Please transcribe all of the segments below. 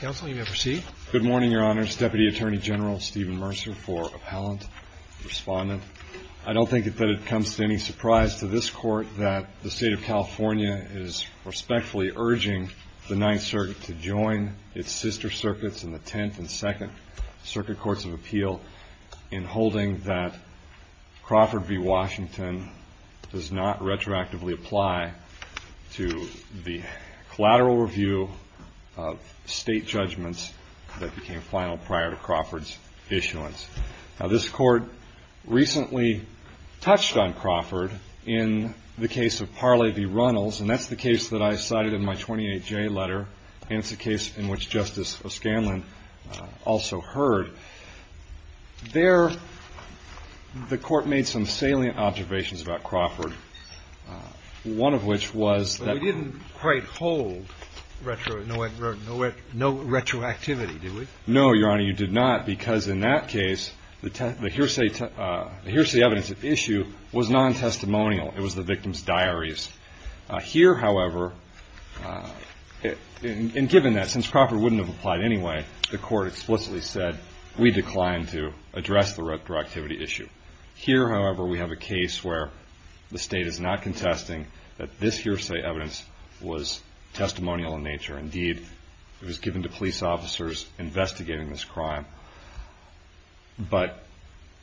Good morning, Your Honors. Deputy Attorney General Stephen Mercer for Appellant Respondent. I don't think that it comes to any surprise to this Court that the State of California is respectfully urging the Ninth Circuit to join its sister circuits in the Tenth and Second Circuit Courts of Appeal in holding that Crawford v. Washington does not retroactively apply to the collateral review of state judgments that became final prior to Crawford's issuance. This Court recently touched on Crawford in the case of Parley v. Runnels, and that's the case that I cited in my 28J letter, and it's a case in which Justice O'Scanlan also heard. There, the Court made some salient observations about Crawford, one of which was that we didn't quite hold no retroactivity, did we? No, Your Honor, you did not, because in that case, the hearsay evidence at issue was non-testimonial. It was the victim's diaries. Here, however, and given that, since Crawford wouldn't have applied anyway, the Court explicitly said, we decline to address the retroactivity issue. Here, however, we have a case where the State is not contesting that this hearsay evidence was testimonial in nature. Indeed, it was given to police officers investigating this crime, but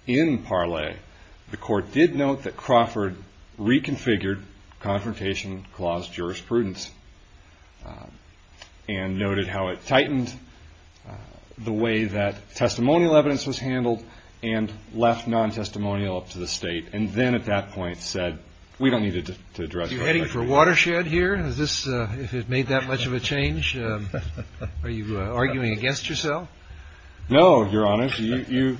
in Parley, the Court did note that Crawford reconfigured Confrontation Clause jurisprudence, and noted how it tightened the way that testimonial evidence was handled and left non-testimonial up to the State, and then at that point said, we don't need to address retroactivity. Are you heading for a watershed here, if it made that much of a change? Are you arguing against yourself? No, Your Honor. You,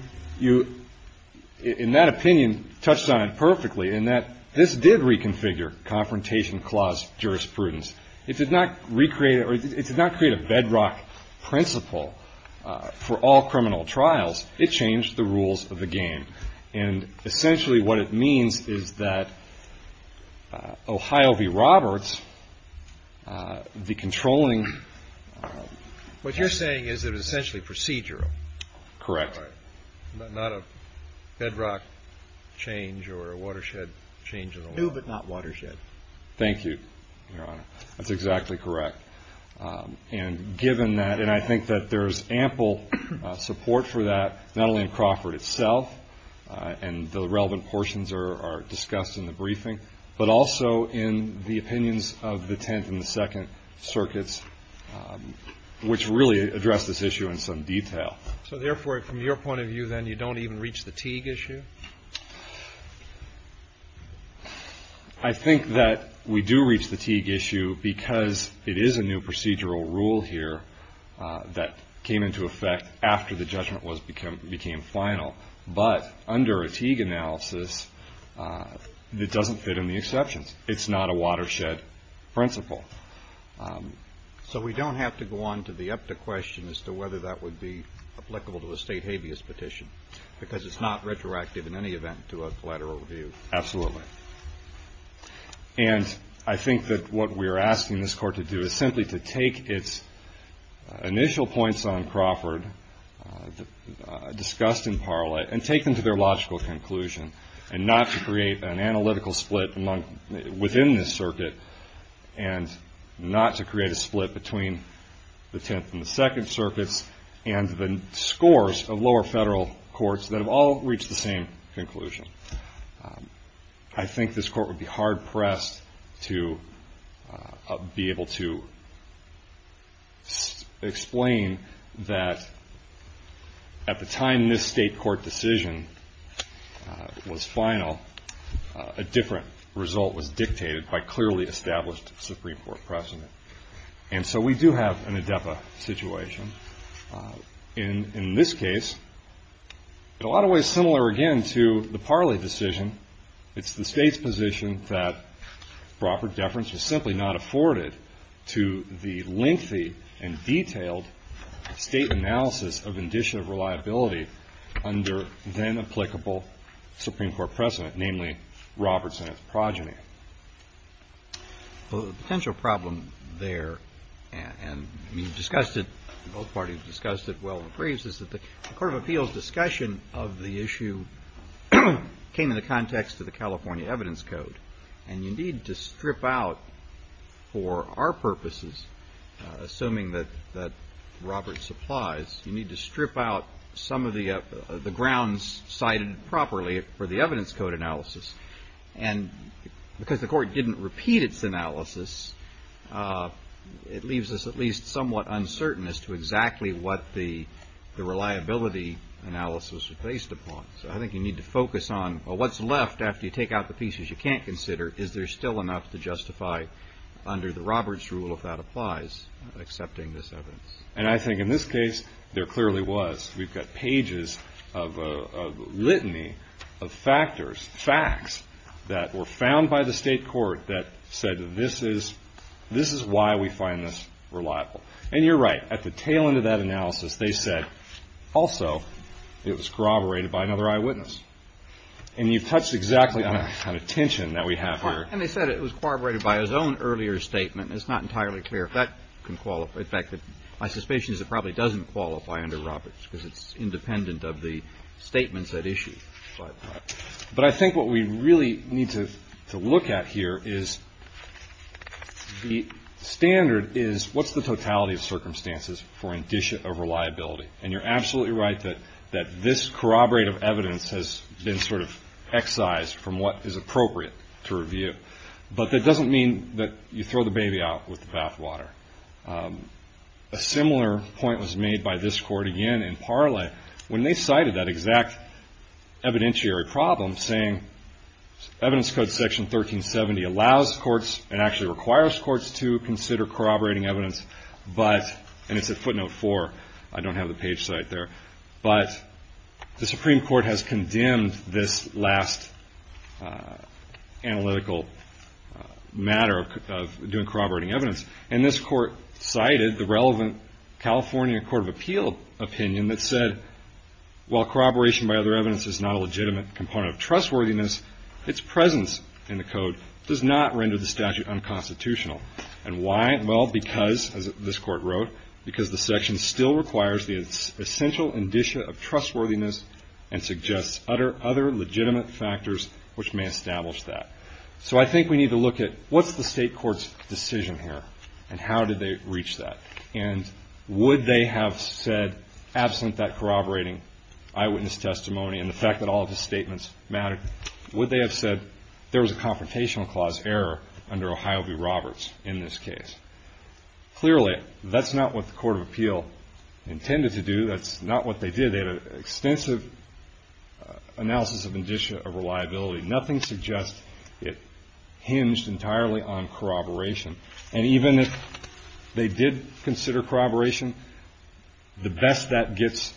in that opinion, touched on it perfectly, in that this did reconfigure Confrontation Clause jurisprudence. It did not recreate or it did not create a bedrock principle for all criminal trials. It changed the rules of the game. And essentially, what it means is that Ohio v. Roberts, the controlling What you're saying is that it was essentially procedural. Correct. All right. Not a bedrock change or a watershed change in the law. No, but not watershed. Thank you, Your Honor. That's exactly correct. And given that, and I think that there's ample support for that, not only in Crawford itself, and the relevant portions are discussed in the briefing, but also in the opinions of the Tenth and the Second Circuits, which really address this issue in some detail. So therefore, from your point of view, then, you don't even reach the Teague issue? I think that we do reach the Teague issue because it is a new procedural rule here that came into effect after the judgment became final. But under a Teague analysis, it doesn't fit in the exceptions. It's not a watershed principle. So we don't have to go on to the EPTA question as to whether that would be applicable to a state habeas petition, because it's not retroactive in any event to a collateral review. Absolutely. And I think that what we're asking this Court to do is simply to take its initial points on Crawford, discussed in parla, and take them to their logical conclusion, and not to create an analytical split within this circuit, and not to create a split between the Tenth and the Second Circuits and the scores of lower federal courts that have all reached the same conclusion. I think this Court would be hard-pressed to be able to explain that at the time this state court decision was final, a different result was dictated by clearly established Supreme Court precedent. And so we do have an ADEPA situation. In this case, in a lot of ways similar again to the parla decision, it's the state's position that Crawford deference was simply not afforded to the lengthy and detailed state analysis of indicia of reliability under then-applicable Supreme Court precedent, namely Robertson and his progeny. Well, the potential problem there, and we've discussed it, both parties have discussed it well in briefs, is that the Court of Appeals discussion of the issue came in the context of the California Evidence Code. And you need to strip out, for our purposes, assuming that Roberts applies, you need to strip out some of the grounds cited properly for the Evidence Code. Because the Court didn't repeat its analysis, it leaves us at least somewhat uncertain as to exactly what the reliability analysis was based upon. So I think you need to focus on what's left after you take out the pieces you can't consider. Is there still enough to justify under the Roberts rule, if that applies, accepting this evidence? And I think in this case, there clearly was. We've got pages of litany of factors, facts, that were found by the State court that said this is why we find this reliable. And you're right. At the tail end of that analysis, they said, also, it was corroborated by another eyewitness. And you've touched exactly on a tension that we have here. And they said it was corroborated by his own earlier statement. It's not entirely clear if that can qualify. In fact, my suspicion is it probably doesn't qualify under Roberts, because it's independent of the statements at issue. But I think what we really need to look at here is the standard is, what's the totality of circumstances for indicia of reliability? And you're absolutely right that this corroborative evidence has been sort of excised from what is appropriate to review. But that doesn't mean that you throw the baby out with the bathwater. A similar point was made by this court again in Parla when they cited that exact evidentiary problem, saying evidence code section 1370 allows courts and actually requires courts to consider corroborating evidence. But, and it's at footnote 4. I don't have the page cite there. But the Supreme Court has condemned this last analytical matter of doing corroborating evidence. And this court cited the relevant California Court of Appeal opinion that said, while corroboration by other evidence is not a legitimate component of trustworthiness, its presence in the code does not render the statute unconstitutional. And why? Well, because, as this court wrote, because the section still requires the essential indicia of trustworthiness and suggests other legitimate factors which may establish that. So I think we need to look at, what's the state court's decision here? And how did they reach that? And would they have said, absent that corroborating eyewitness testimony and the fact that all of his statements mattered, would they have said there was a confrontational clause error under Ohio v. Roberts in this case? Clearly, that's not what the Court of Appeal intended to do. That's not what they did. They had an extensive analysis of indicia of reliability. Nothing suggests it hinged entirely on corroboration. And even if they did consider corroboration, the best that gets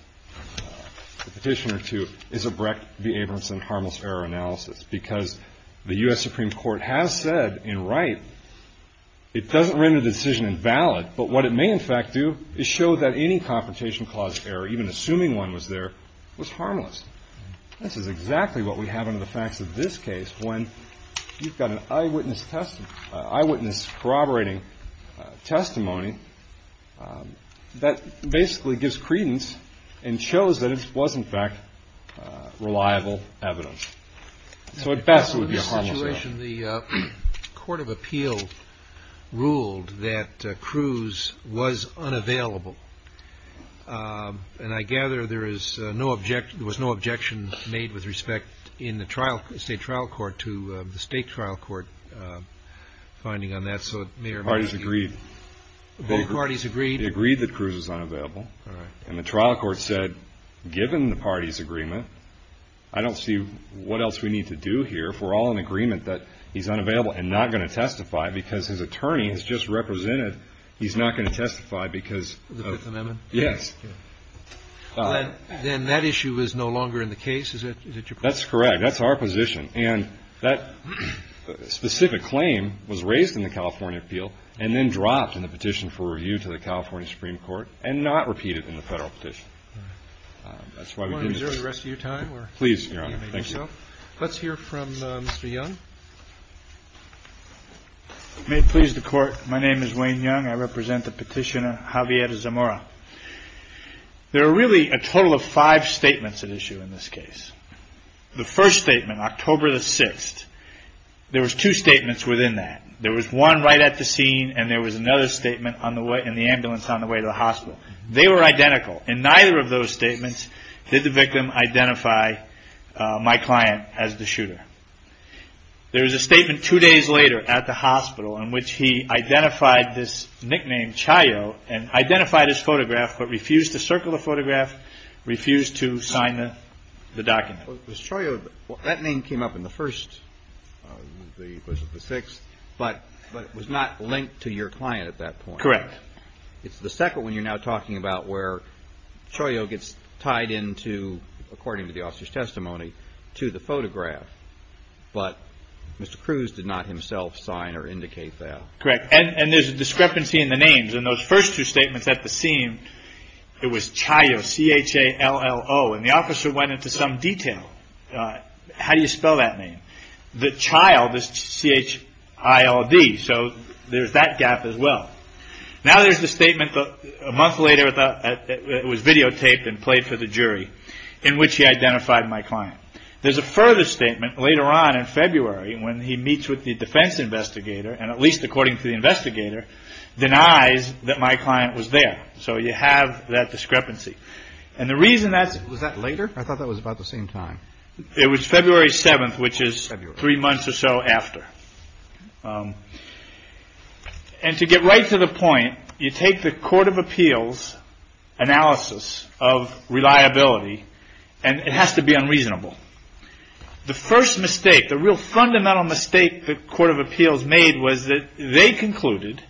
the petitioner to is a Brecht v. Abramson harmless error analysis. Because the U.S. Supreme Court has said in Wright, it doesn't render the decision invalid. But what it may, in fact, do is show that any confrontational clause error, even assuming one was there, was harmless. This is exactly what we have under the facts of this case, when you've got an eyewitness corroborating testimony that basically gives credence and shows that it was, in fact, reliable evidence. So at best, it would be a harmless error. In this situation, the Court of Appeal ruled that Cruz was unavailable. And the reason for that is, and I gather there was no objection made with respect in the State Trial Court to the State Trial Court finding on that, so it may or may not be true. Parties agreed. Both parties agreed. They agreed that Cruz was unavailable. And the trial court said, given the parties' agreement, I don't see what else we need to do here if we're all in agreement that he's unavailable and not going to testify because his attorney has just represented he's not going to testify because of the Fifth Amendment. Yes. Then that issue is no longer in the case? Is that your point? That's correct. That's our position. And that specific claim was raised in the California Appeal and then dropped in the petition for review to the California Supreme Court and not repeated in the Federal petition. That's why we didn't just do it. Do you want to reserve the rest of your time, or do you need me to go? Please, Your Honor. Thank you. Let's hear from Mr. Young. May it please the Court, my name is Wayne Young. I represent the petitioner, Javier Zamora. There are really a total of five statements at issue in this case. The first statement, October the 6th, there was two statements within that. There was one right at the scene, and there was another statement in the ambulance on the way to the hospital. They were identical, and neither of those statements did the victim identify my client as the shooter. There was a statement two days later at the hospital in which he identified this nickname Chayo, and identified his photograph, but refused to circle the photograph, refused to sign the document. Was Chayo, that name came up in the first, it was the 6th, but it was not linked to your client at that point. Correct. It's the second one you're now talking about where Chayo gets tied into, according to the officer's testimony, to the photograph, but Mr. Cruz did not himself sign or indicate that. Correct. And there's a discrepancy in the names. In those first two statements at the scene, it was Chayo, C-H-A-L-L-O, and the officer went into some detail. How do you spell that name? The child is C-H-I-L-D, so there's that gap as well. Now there's the statement a month later, it was videotaped and played for the jury, in which he identified my client. There's a further statement later on in February when he meets with the defense investigator, and at least according to the investigator, denies that my client was there. So you have that discrepancy. And the reason that's... Was that later? I thought that was about the same time. It was February 7th, which is three months or so after. And to get right to the point, you take the Court of Appeals analysis of reliability, and it has to be unreasonable. The first mistake, the real fundamental mistake the Court of Appeals made was that they concluded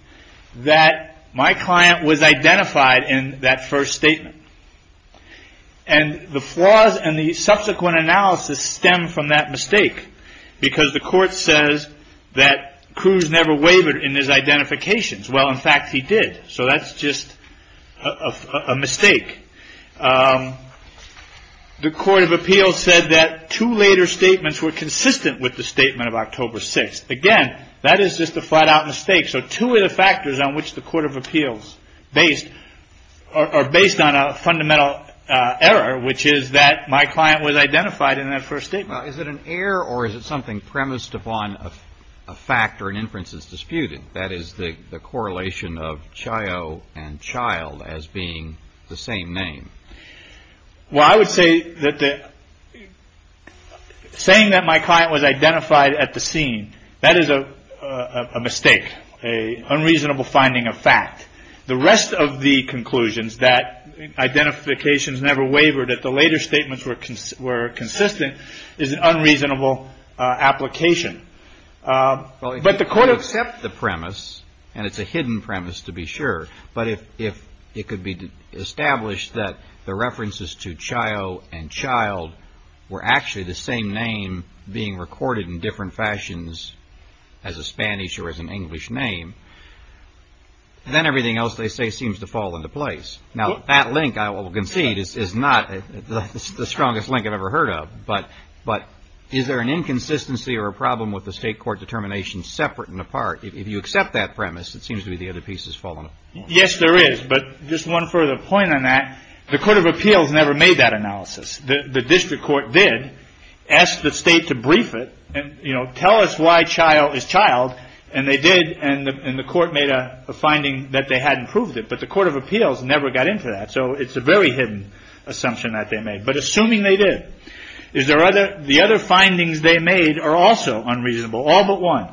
that my client was identified in that first statement. And the flaws in the subsequent analysis stem from that mistake, because the court says that Cruz never wavered in his identifications. Well, in fact, he did. So that's just a mistake. The Court of Appeals said that two later statements were consistent with the statement of October 6th. Again, that is just a flat-out mistake. So two of the factors on which the Court of Appeals based, are based on a fundamental error, which is that my client was identified in that first statement. Now, is it an error or is it something premised upon a fact or an inference that's disputed? That is the correlation of Chayo and Child as being the same name. Well, I would say that saying that my client was identified at the scene, that is a mistake, a unreasonable finding of fact. The rest of the conclusions that identifications never wavered at the later statements were consistent, is an unreasonable application. Well, if you could accept the premise, and it's a hidden premise to be sure, but if it could be established that the references to Chayo and Child were actually the same name being recorded in different fashions as a Spanish or as an English name, then everything else they say seems to fall into place. Now, that link, I will concede, is not the strongest link I've ever heard of, but is there an inconsistency or a problem with the state court determination separate and apart? If you accept that premise, it seems to be the other pieces falling apart. Yes, there is, but just one further point on that, the Court of Appeals never made that analysis. The district court did, asked the state to brief it and tell us why Chayo is Child and they did, and the court made a finding that they hadn't proved it, but the Court of Appeals never got into that, so it's a very hidden assumption that they made. But assuming they did, the other findings they made are also unreasonable, all but one.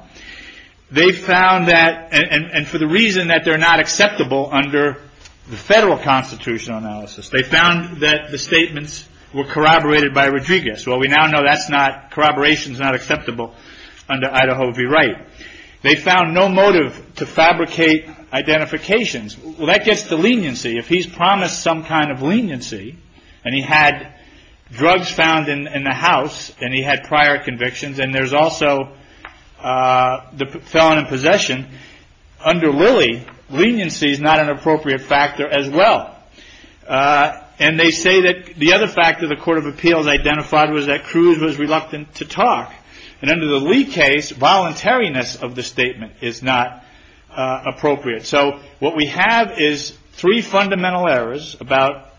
They found that, and for the reason that they're not acceptable under the federal constitutional analysis, they found that the statements were corroborated by Rodriguez. Well, we now know that's not, corroboration's not acceptable under Idaho v. Wright. They found no motive to fabricate identifications. Well, that gets to leniency. If he's promised some kind of drugs found in the house, and he had prior convictions, and there's also the felon in possession, under Lilly, leniency's not an appropriate factor as well. And they say that the other factor the Court of Appeals identified was that Cruz was reluctant to talk, and under the Lee case, voluntariness of the statement is not appropriate. So what we have is three fundamental errors about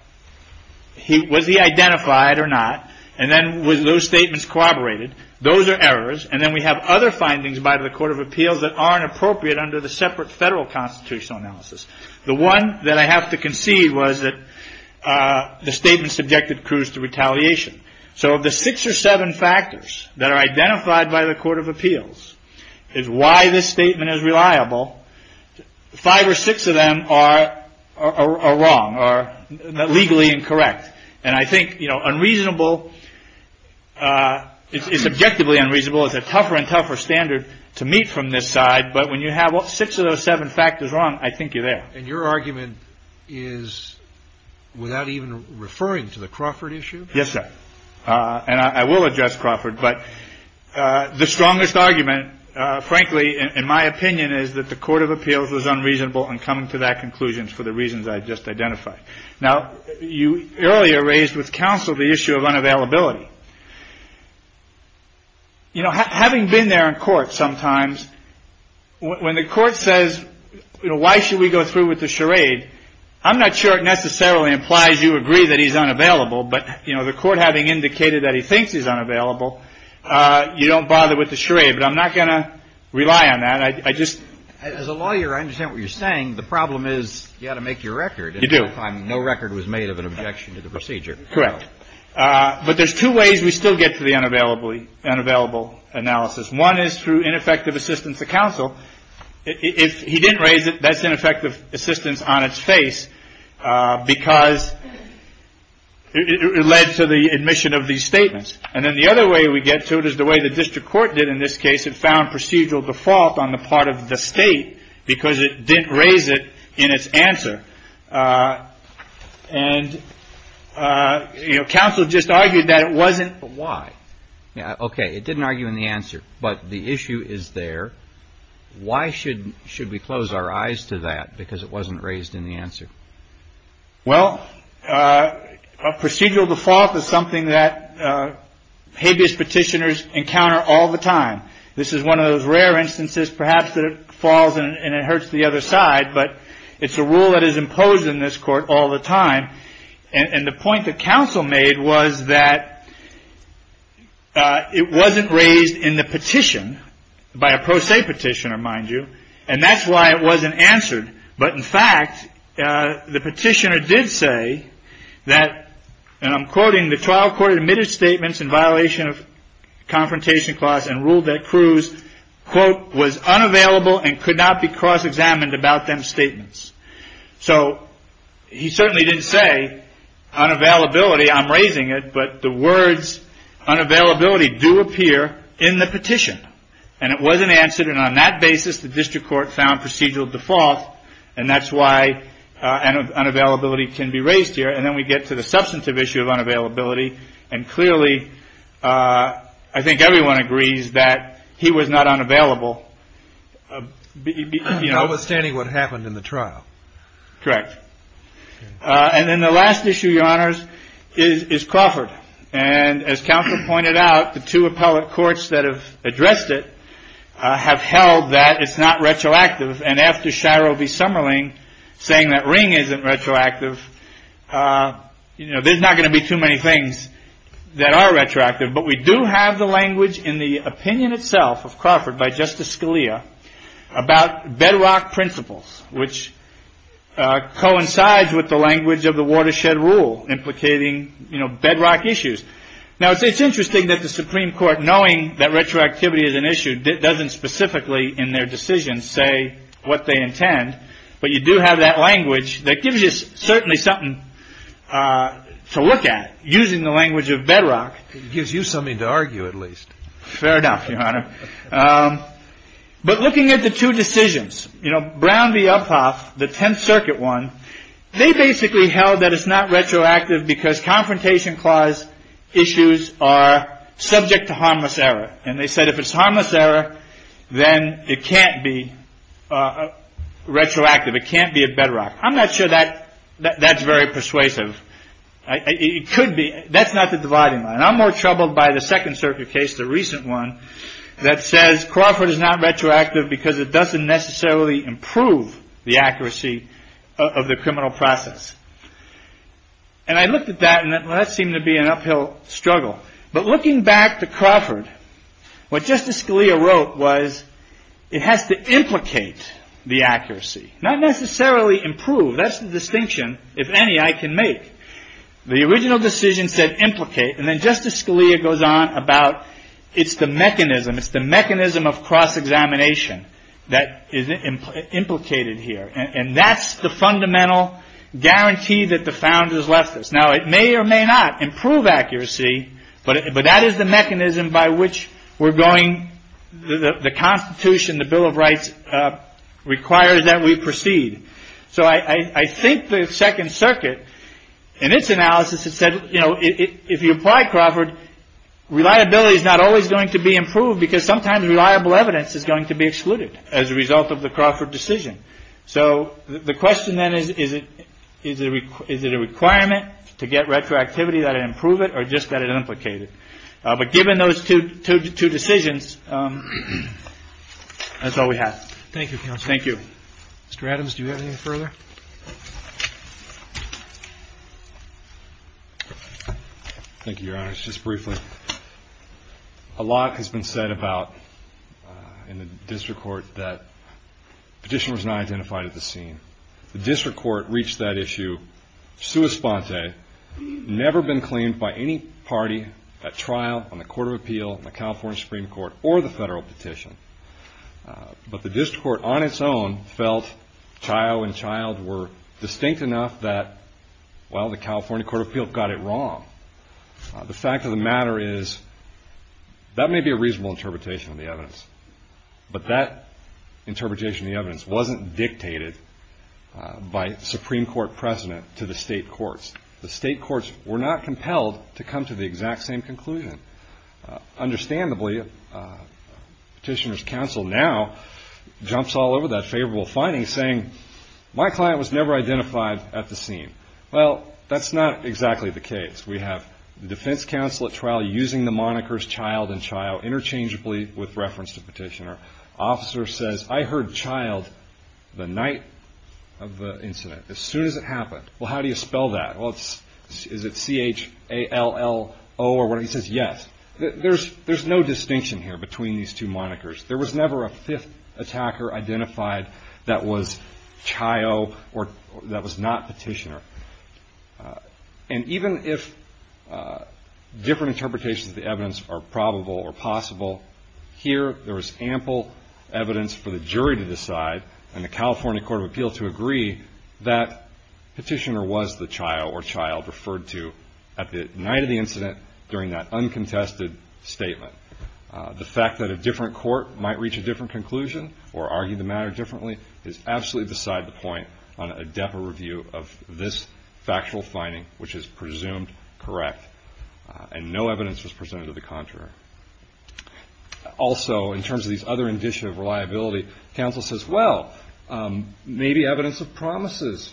was he identified or not, and then were those statements corroborated? Those are errors, and then we have other findings by the Court of Appeals that aren't appropriate under the separate federal constitutional analysis. The one that I have to concede was that the statement subjected Cruz to retaliation. So of the six or seven factors that are identified by the Court of Appeals, is why this statement is reliable, five or six of them are wrong, are legally incorrect. And I think, you know, unreasonable, it's subjectively unreasonable, it's a tougher and tougher standard to meet from this side. But when you have six of those seven factors wrong, I think you're there. And your argument is without even referring to the Crawford issue? Yes, sir. And I will address Crawford. But the strongest argument, frankly, in my opinion, is that the Court of Appeals was unreasonable in coming to that conclusion for the reasons I just identified. Now, you earlier raised with counsel the issue of unavailability. You know, having been there in court sometimes, when the court says, you know, why should we go through with the charade? I'm not sure it necessarily implies you agree that he's unavailable. But, you know, the court having indicated that he thinks he's unavailable, you don't bother with the charade. But I'm not going to rely on that. I just — As a lawyer, I understand what you're saying. The problem is you've got to make your record. You do. And at that time, no record was made of an objection to the procedure. Correct. But there's two ways we still get to the unavailable analysis. One is through ineffective assistance of counsel. If he didn't raise it, that's ineffective assistance on its face because it led to the admission of these statements. And then the other way we get to it is the way the district court did in this case. It found procedural default on the part of the state because it didn't raise it in its answer. And, you know, counsel just argued that it wasn't — But why? Okay. It didn't argue in the answer. But the issue is there. Why should we close our eyes to that because it wasn't raised in the answer? Well, procedural default is something that habeas petitioners encounter all the time. This is one of those rare instances, perhaps, that it falls and it hurts the other side. But it's a rule that is imposed in this court all the time. And the point that counsel made was that it wasn't raised in the petition, by a pro se petitioner, mind you. And that's why it wasn't answered. But, in fact, the petitioner did say that, and I'm quoting, the trial court admitted statements in violation of confrontation clause and ruled that Cruz, quote, was unavailable and could not be cross-examined about them statements. So he certainly didn't say unavailability. I'm raising it. But the words unavailability do appear in the petition. And it wasn't answered. And on that basis, the district court found procedural default. And that's why unavailability can be raised here. And then we get to the substantive issue of unavailability. And, clearly, I think everyone agrees that he was not unavailable. Notwithstanding what happened in the trial. Correct. And then the last issue, Your Honors, is Crawford. And, as counsel pointed out, the two appellate courts that have addressed it have held that it's not retroactive. And after Shiro V. Summerling saying that Ring isn't retroactive, you know, there's not going to be too many things that are retroactive. But we do have the language in the opinion itself of Crawford by Justice Scalia about bedrock principles, which coincides with the language of the watershed rule implicating, you know, bedrock issues. Now, it's interesting that the Supreme Court, knowing that retroactivity is an issue, doesn't specifically in their decision say what they intend. But you do have that language that gives you certainly something to look at using the language of bedrock. It gives you something to argue, at least. Fair enough, Your Honor. But looking at the two decisions, you know, Brown v. Uphoff, the Tenth Circuit one, they basically held that it's not retroactive because confrontation clause issues are subject to harmless error. And they said if it's harmless error, then it can't be retroactive. It can't be a bedrock. I'm not sure that that's very persuasive. It could be. That's not the dividing line. And I'm more troubled by the Second Circuit case, the recent one, that says Crawford is not retroactive because it doesn't necessarily improve the accuracy of the criminal process. And I looked at that, and that seemed to be an uphill struggle. But looking back to Crawford, what Justice Scalia wrote was it has to implicate the accuracy, not necessarily improve. That's the distinction, if any, I can make. The original decision said implicate, and then Justice Scalia goes on about it's the mechanism of cross-examination that is implicated here. And that's the fundamental guarantee that the founders left us. Now, it may or may not improve accuracy, but that is the mechanism by which we're going — the Constitution, the Bill of Rights requires that we proceed. So I think the Second Circuit, in its analysis, it said, you know, if you apply Crawford, reliability is not always going to be improved because sometimes reliable evidence is going to be excluded as a result of the Crawford decision. So the question then is, is it a requirement to get retroactivity that it improve it or just that it implicate it? But given those two decisions, that's all we have. Thank you, counsel. Thank you. Mr. Adams, do you have anything further? Thank you, Your Honor. Just briefly, a lot has been said about — in the district court that petitioners not identified at the scene. The district court reached that issue sua sponte, never been claimed by any party at trial on the Court of Appeal, the California Supreme Court, or the federal petition. But the district court on its own felt Chayo and Child were distinct enough that, well, the California Court of Appeal got it wrong. The fact of the matter is, that may be a reasonable interpretation of the evidence, but that interpretation of the evidence wasn't dictated by Supreme Court precedent to the state courts. The state courts were not compelled to come to the exact same conclusion. Understandably, petitioner's counsel now jumps all over that favorable finding, saying, my client was never identified at the scene. Well, that's not exactly the case. We have the defense counsel at trial using the monikers Child and Chayo interchangeably with reference to petitioner. Officer says, I heard Child the night of the incident, as soon as it happened. Well, how do you spell that? Well, is it C-H-A-L-L-O or whatever? He says, yes. There's no distinction here between these two monikers. There was never a fifth attacker identified that was Chayo or that was not petitioner. And even if different interpretations of the evidence are probable or possible, here there was ample evidence for the jury to decide and the California Court of Appeal to agree that petitioner was the Chayo or Child referred to at the night of the incident during that uncontested statement. The fact that a different court might reach a different conclusion or argue the matter differently is absolutely beside the point on a DEPA review of this factual finding, which is presumed correct, and no evidence was presented to the contrary. Also, in terms of these other indicia of reliability, counsel says, well, maybe evidence of promises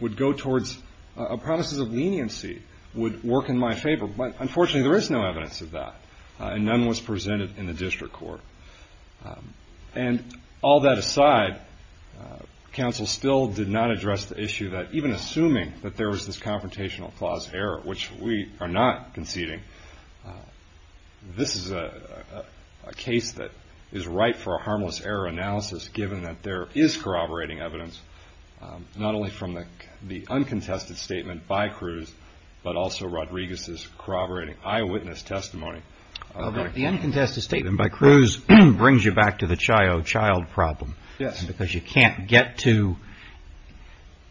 would go towards promises of leniency would work in my favor, but unfortunately there is no evidence of that, and none was presented in the district court. And all that aside, counsel still did not address the issue that even assuming that there was this confrontational clause error, which we are not conceding, this is a case that is right for a harmless error analysis given that there is corroborating evidence, not only from the uncontested statement by Cruz, but also Rodriguez's corroborating eyewitness testimony. The uncontested statement by Cruz brings you back to the Chayo-Child problem because you can't get to,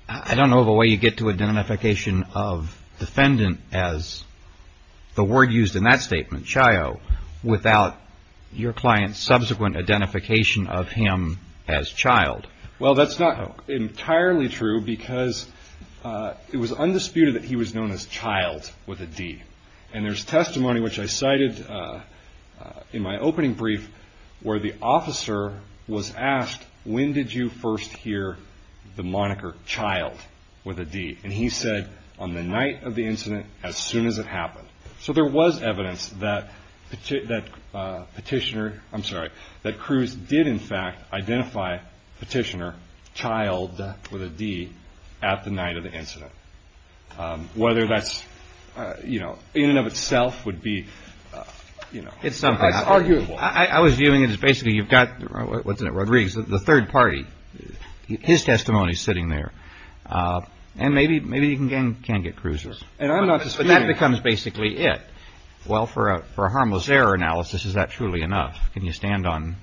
I don't know the way you get to a identification of defendant as the word used in that statement, Chayo, without your client's subsequent identification of him as Child. Well that's not entirely true because it was undisputed that he was known as Child with a D, and there's testimony which I cited in my opening brief where the officer was asked, when did you first hear the moniker Child with a D, and he said, on the night of the incident, as soon as it happened. So there was evidence that Cruz did, in fact, identify Petitioner, Child with a D, at the night of the incident, whether that's in and of itself would be arguable. I was viewing it as basically you've got, wasn't it, Rodriguez, the third party, his testimony is sitting there, and maybe you can get Cruz's, but that becomes basically it. Well, for a harmless error analysis, is that truly enough? Can you stand on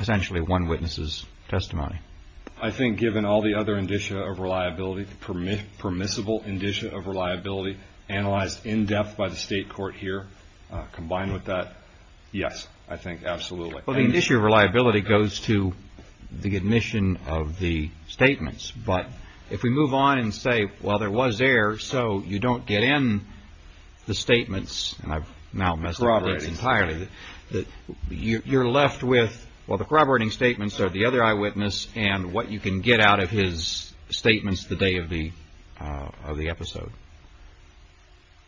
essentially one witness's testimony? I think given all the other indicia of reliability, permissible indicia of reliability, analyzed in depth by the state court here, combined with that, yes, I think absolutely. Well, the indicia of reliability goes to the admission of the statements, but if we move on and say, well, there was error, so you don't get in the statements, and I've now messed up the dates entirely, you're left with, well, the corroborating statements are the other eyewitness and what you can get out of his statements the day of the episode.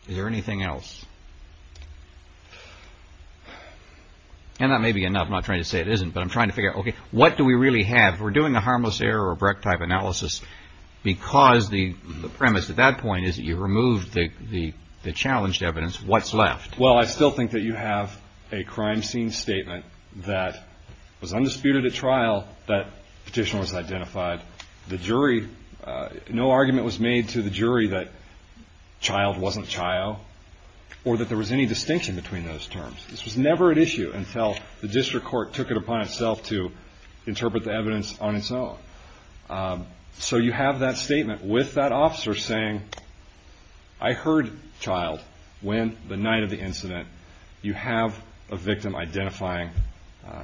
Is there anything else? And that may be enough. I'm not trying to say it isn't, but I'm trying to figure out, okay, what do we really have? If we're doing a harmless error or a Brecht-type analysis because the premise at that point is that you removed the challenged evidence, what's left? Well, I still think that you have a crime scene statement that was undisputed at trial that petitioner was identified. The jury, no argument was made to the jury that child wasn't child or that there was any distinction between those terms. This was never an issue until the district court took it upon itself to interpret the evidence on its own. So you have that statement with that officer saying, I heard child when the night of the incident you have a victim identifying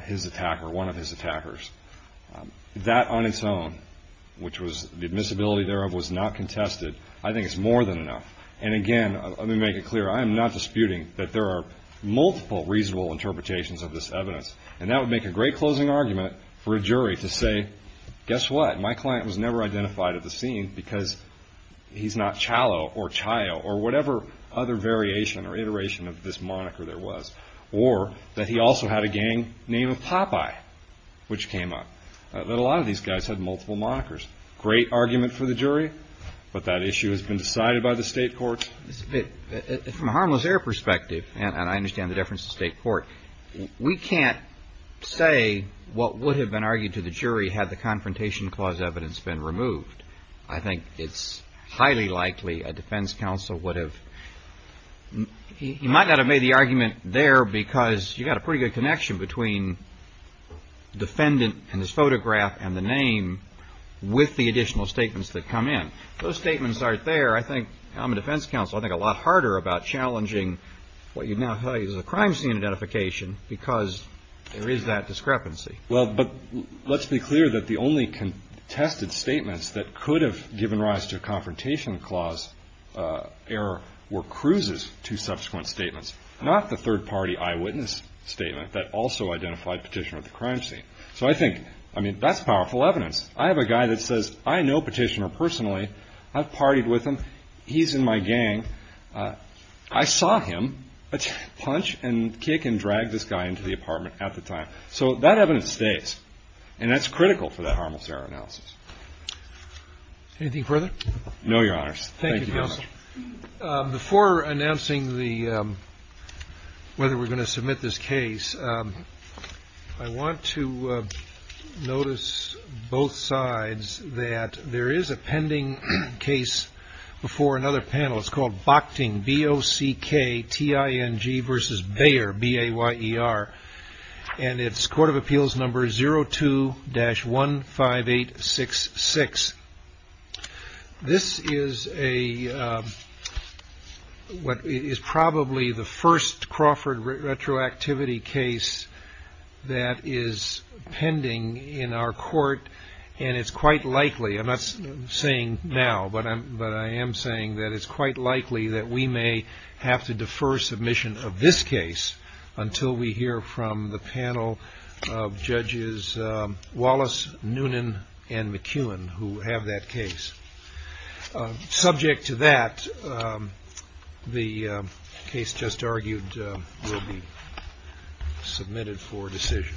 his attacker, one of his attackers. That on its own, which was the admissibility thereof was not contested, I think is more than enough. And again, let me make it clear, I am not disputing that there are multiple reasonable interpretations of this evidence, and that would make a great closing argument for a guess what? My client was never identified at the scene because he's not Chalo or Chayo or whatever other variation or iteration of this moniker there was, or that he also had a gang name of Popeye, which came up. A lot of these guys had multiple monikers. Great argument for the jury, but that issue has been decided by the state court. From a harmless error perspective, and I understand the difference to state court, we can't say what would have been argued to the jury had the confrontation clause evidence been removed. I think it's highly likely a defense counsel would have, he might not have made the argument there because you've got a pretty good connection between defendant and his photograph and the name with the additional statements that come in. Those statements aren't there, I think, I'm a defense counsel, I think a lot harder about Well, but let's be clear that the only contested statements that could have given rise to a confrontation clause error were Cruz's two subsequent statements, not the third party eyewitness statement that also identified Petitioner at the crime scene. So I think, I mean, that's powerful evidence. I have a guy that says, I know Petitioner personally, I've partied with him, he's in my gang, I saw him punch and kick and drag this guy into the apartment at the time. So that evidence stays, and that's critical for that harmless error analysis. Anything further? No, your honors. Thank you, counsel. Before announcing whether we're going to submit this case, I want to notice both sides that there is a pending case before another panel, it's called Bochting, B-O-C-K-T-I-N-G versus Bayer, B-A-Y-E-R, and it's Court of Appeals number 02-15866. This is a, what is probably the first Crawford retroactivity case that is pending in our court and it's quite likely, I'm not saying now, but I am saying that it's quite likely that we may have to defer submission of this case until we hear from the panel of judges Wallace, Noonan, and McEwen who have that case. Subject to that, the case just argued will be submitted for decision.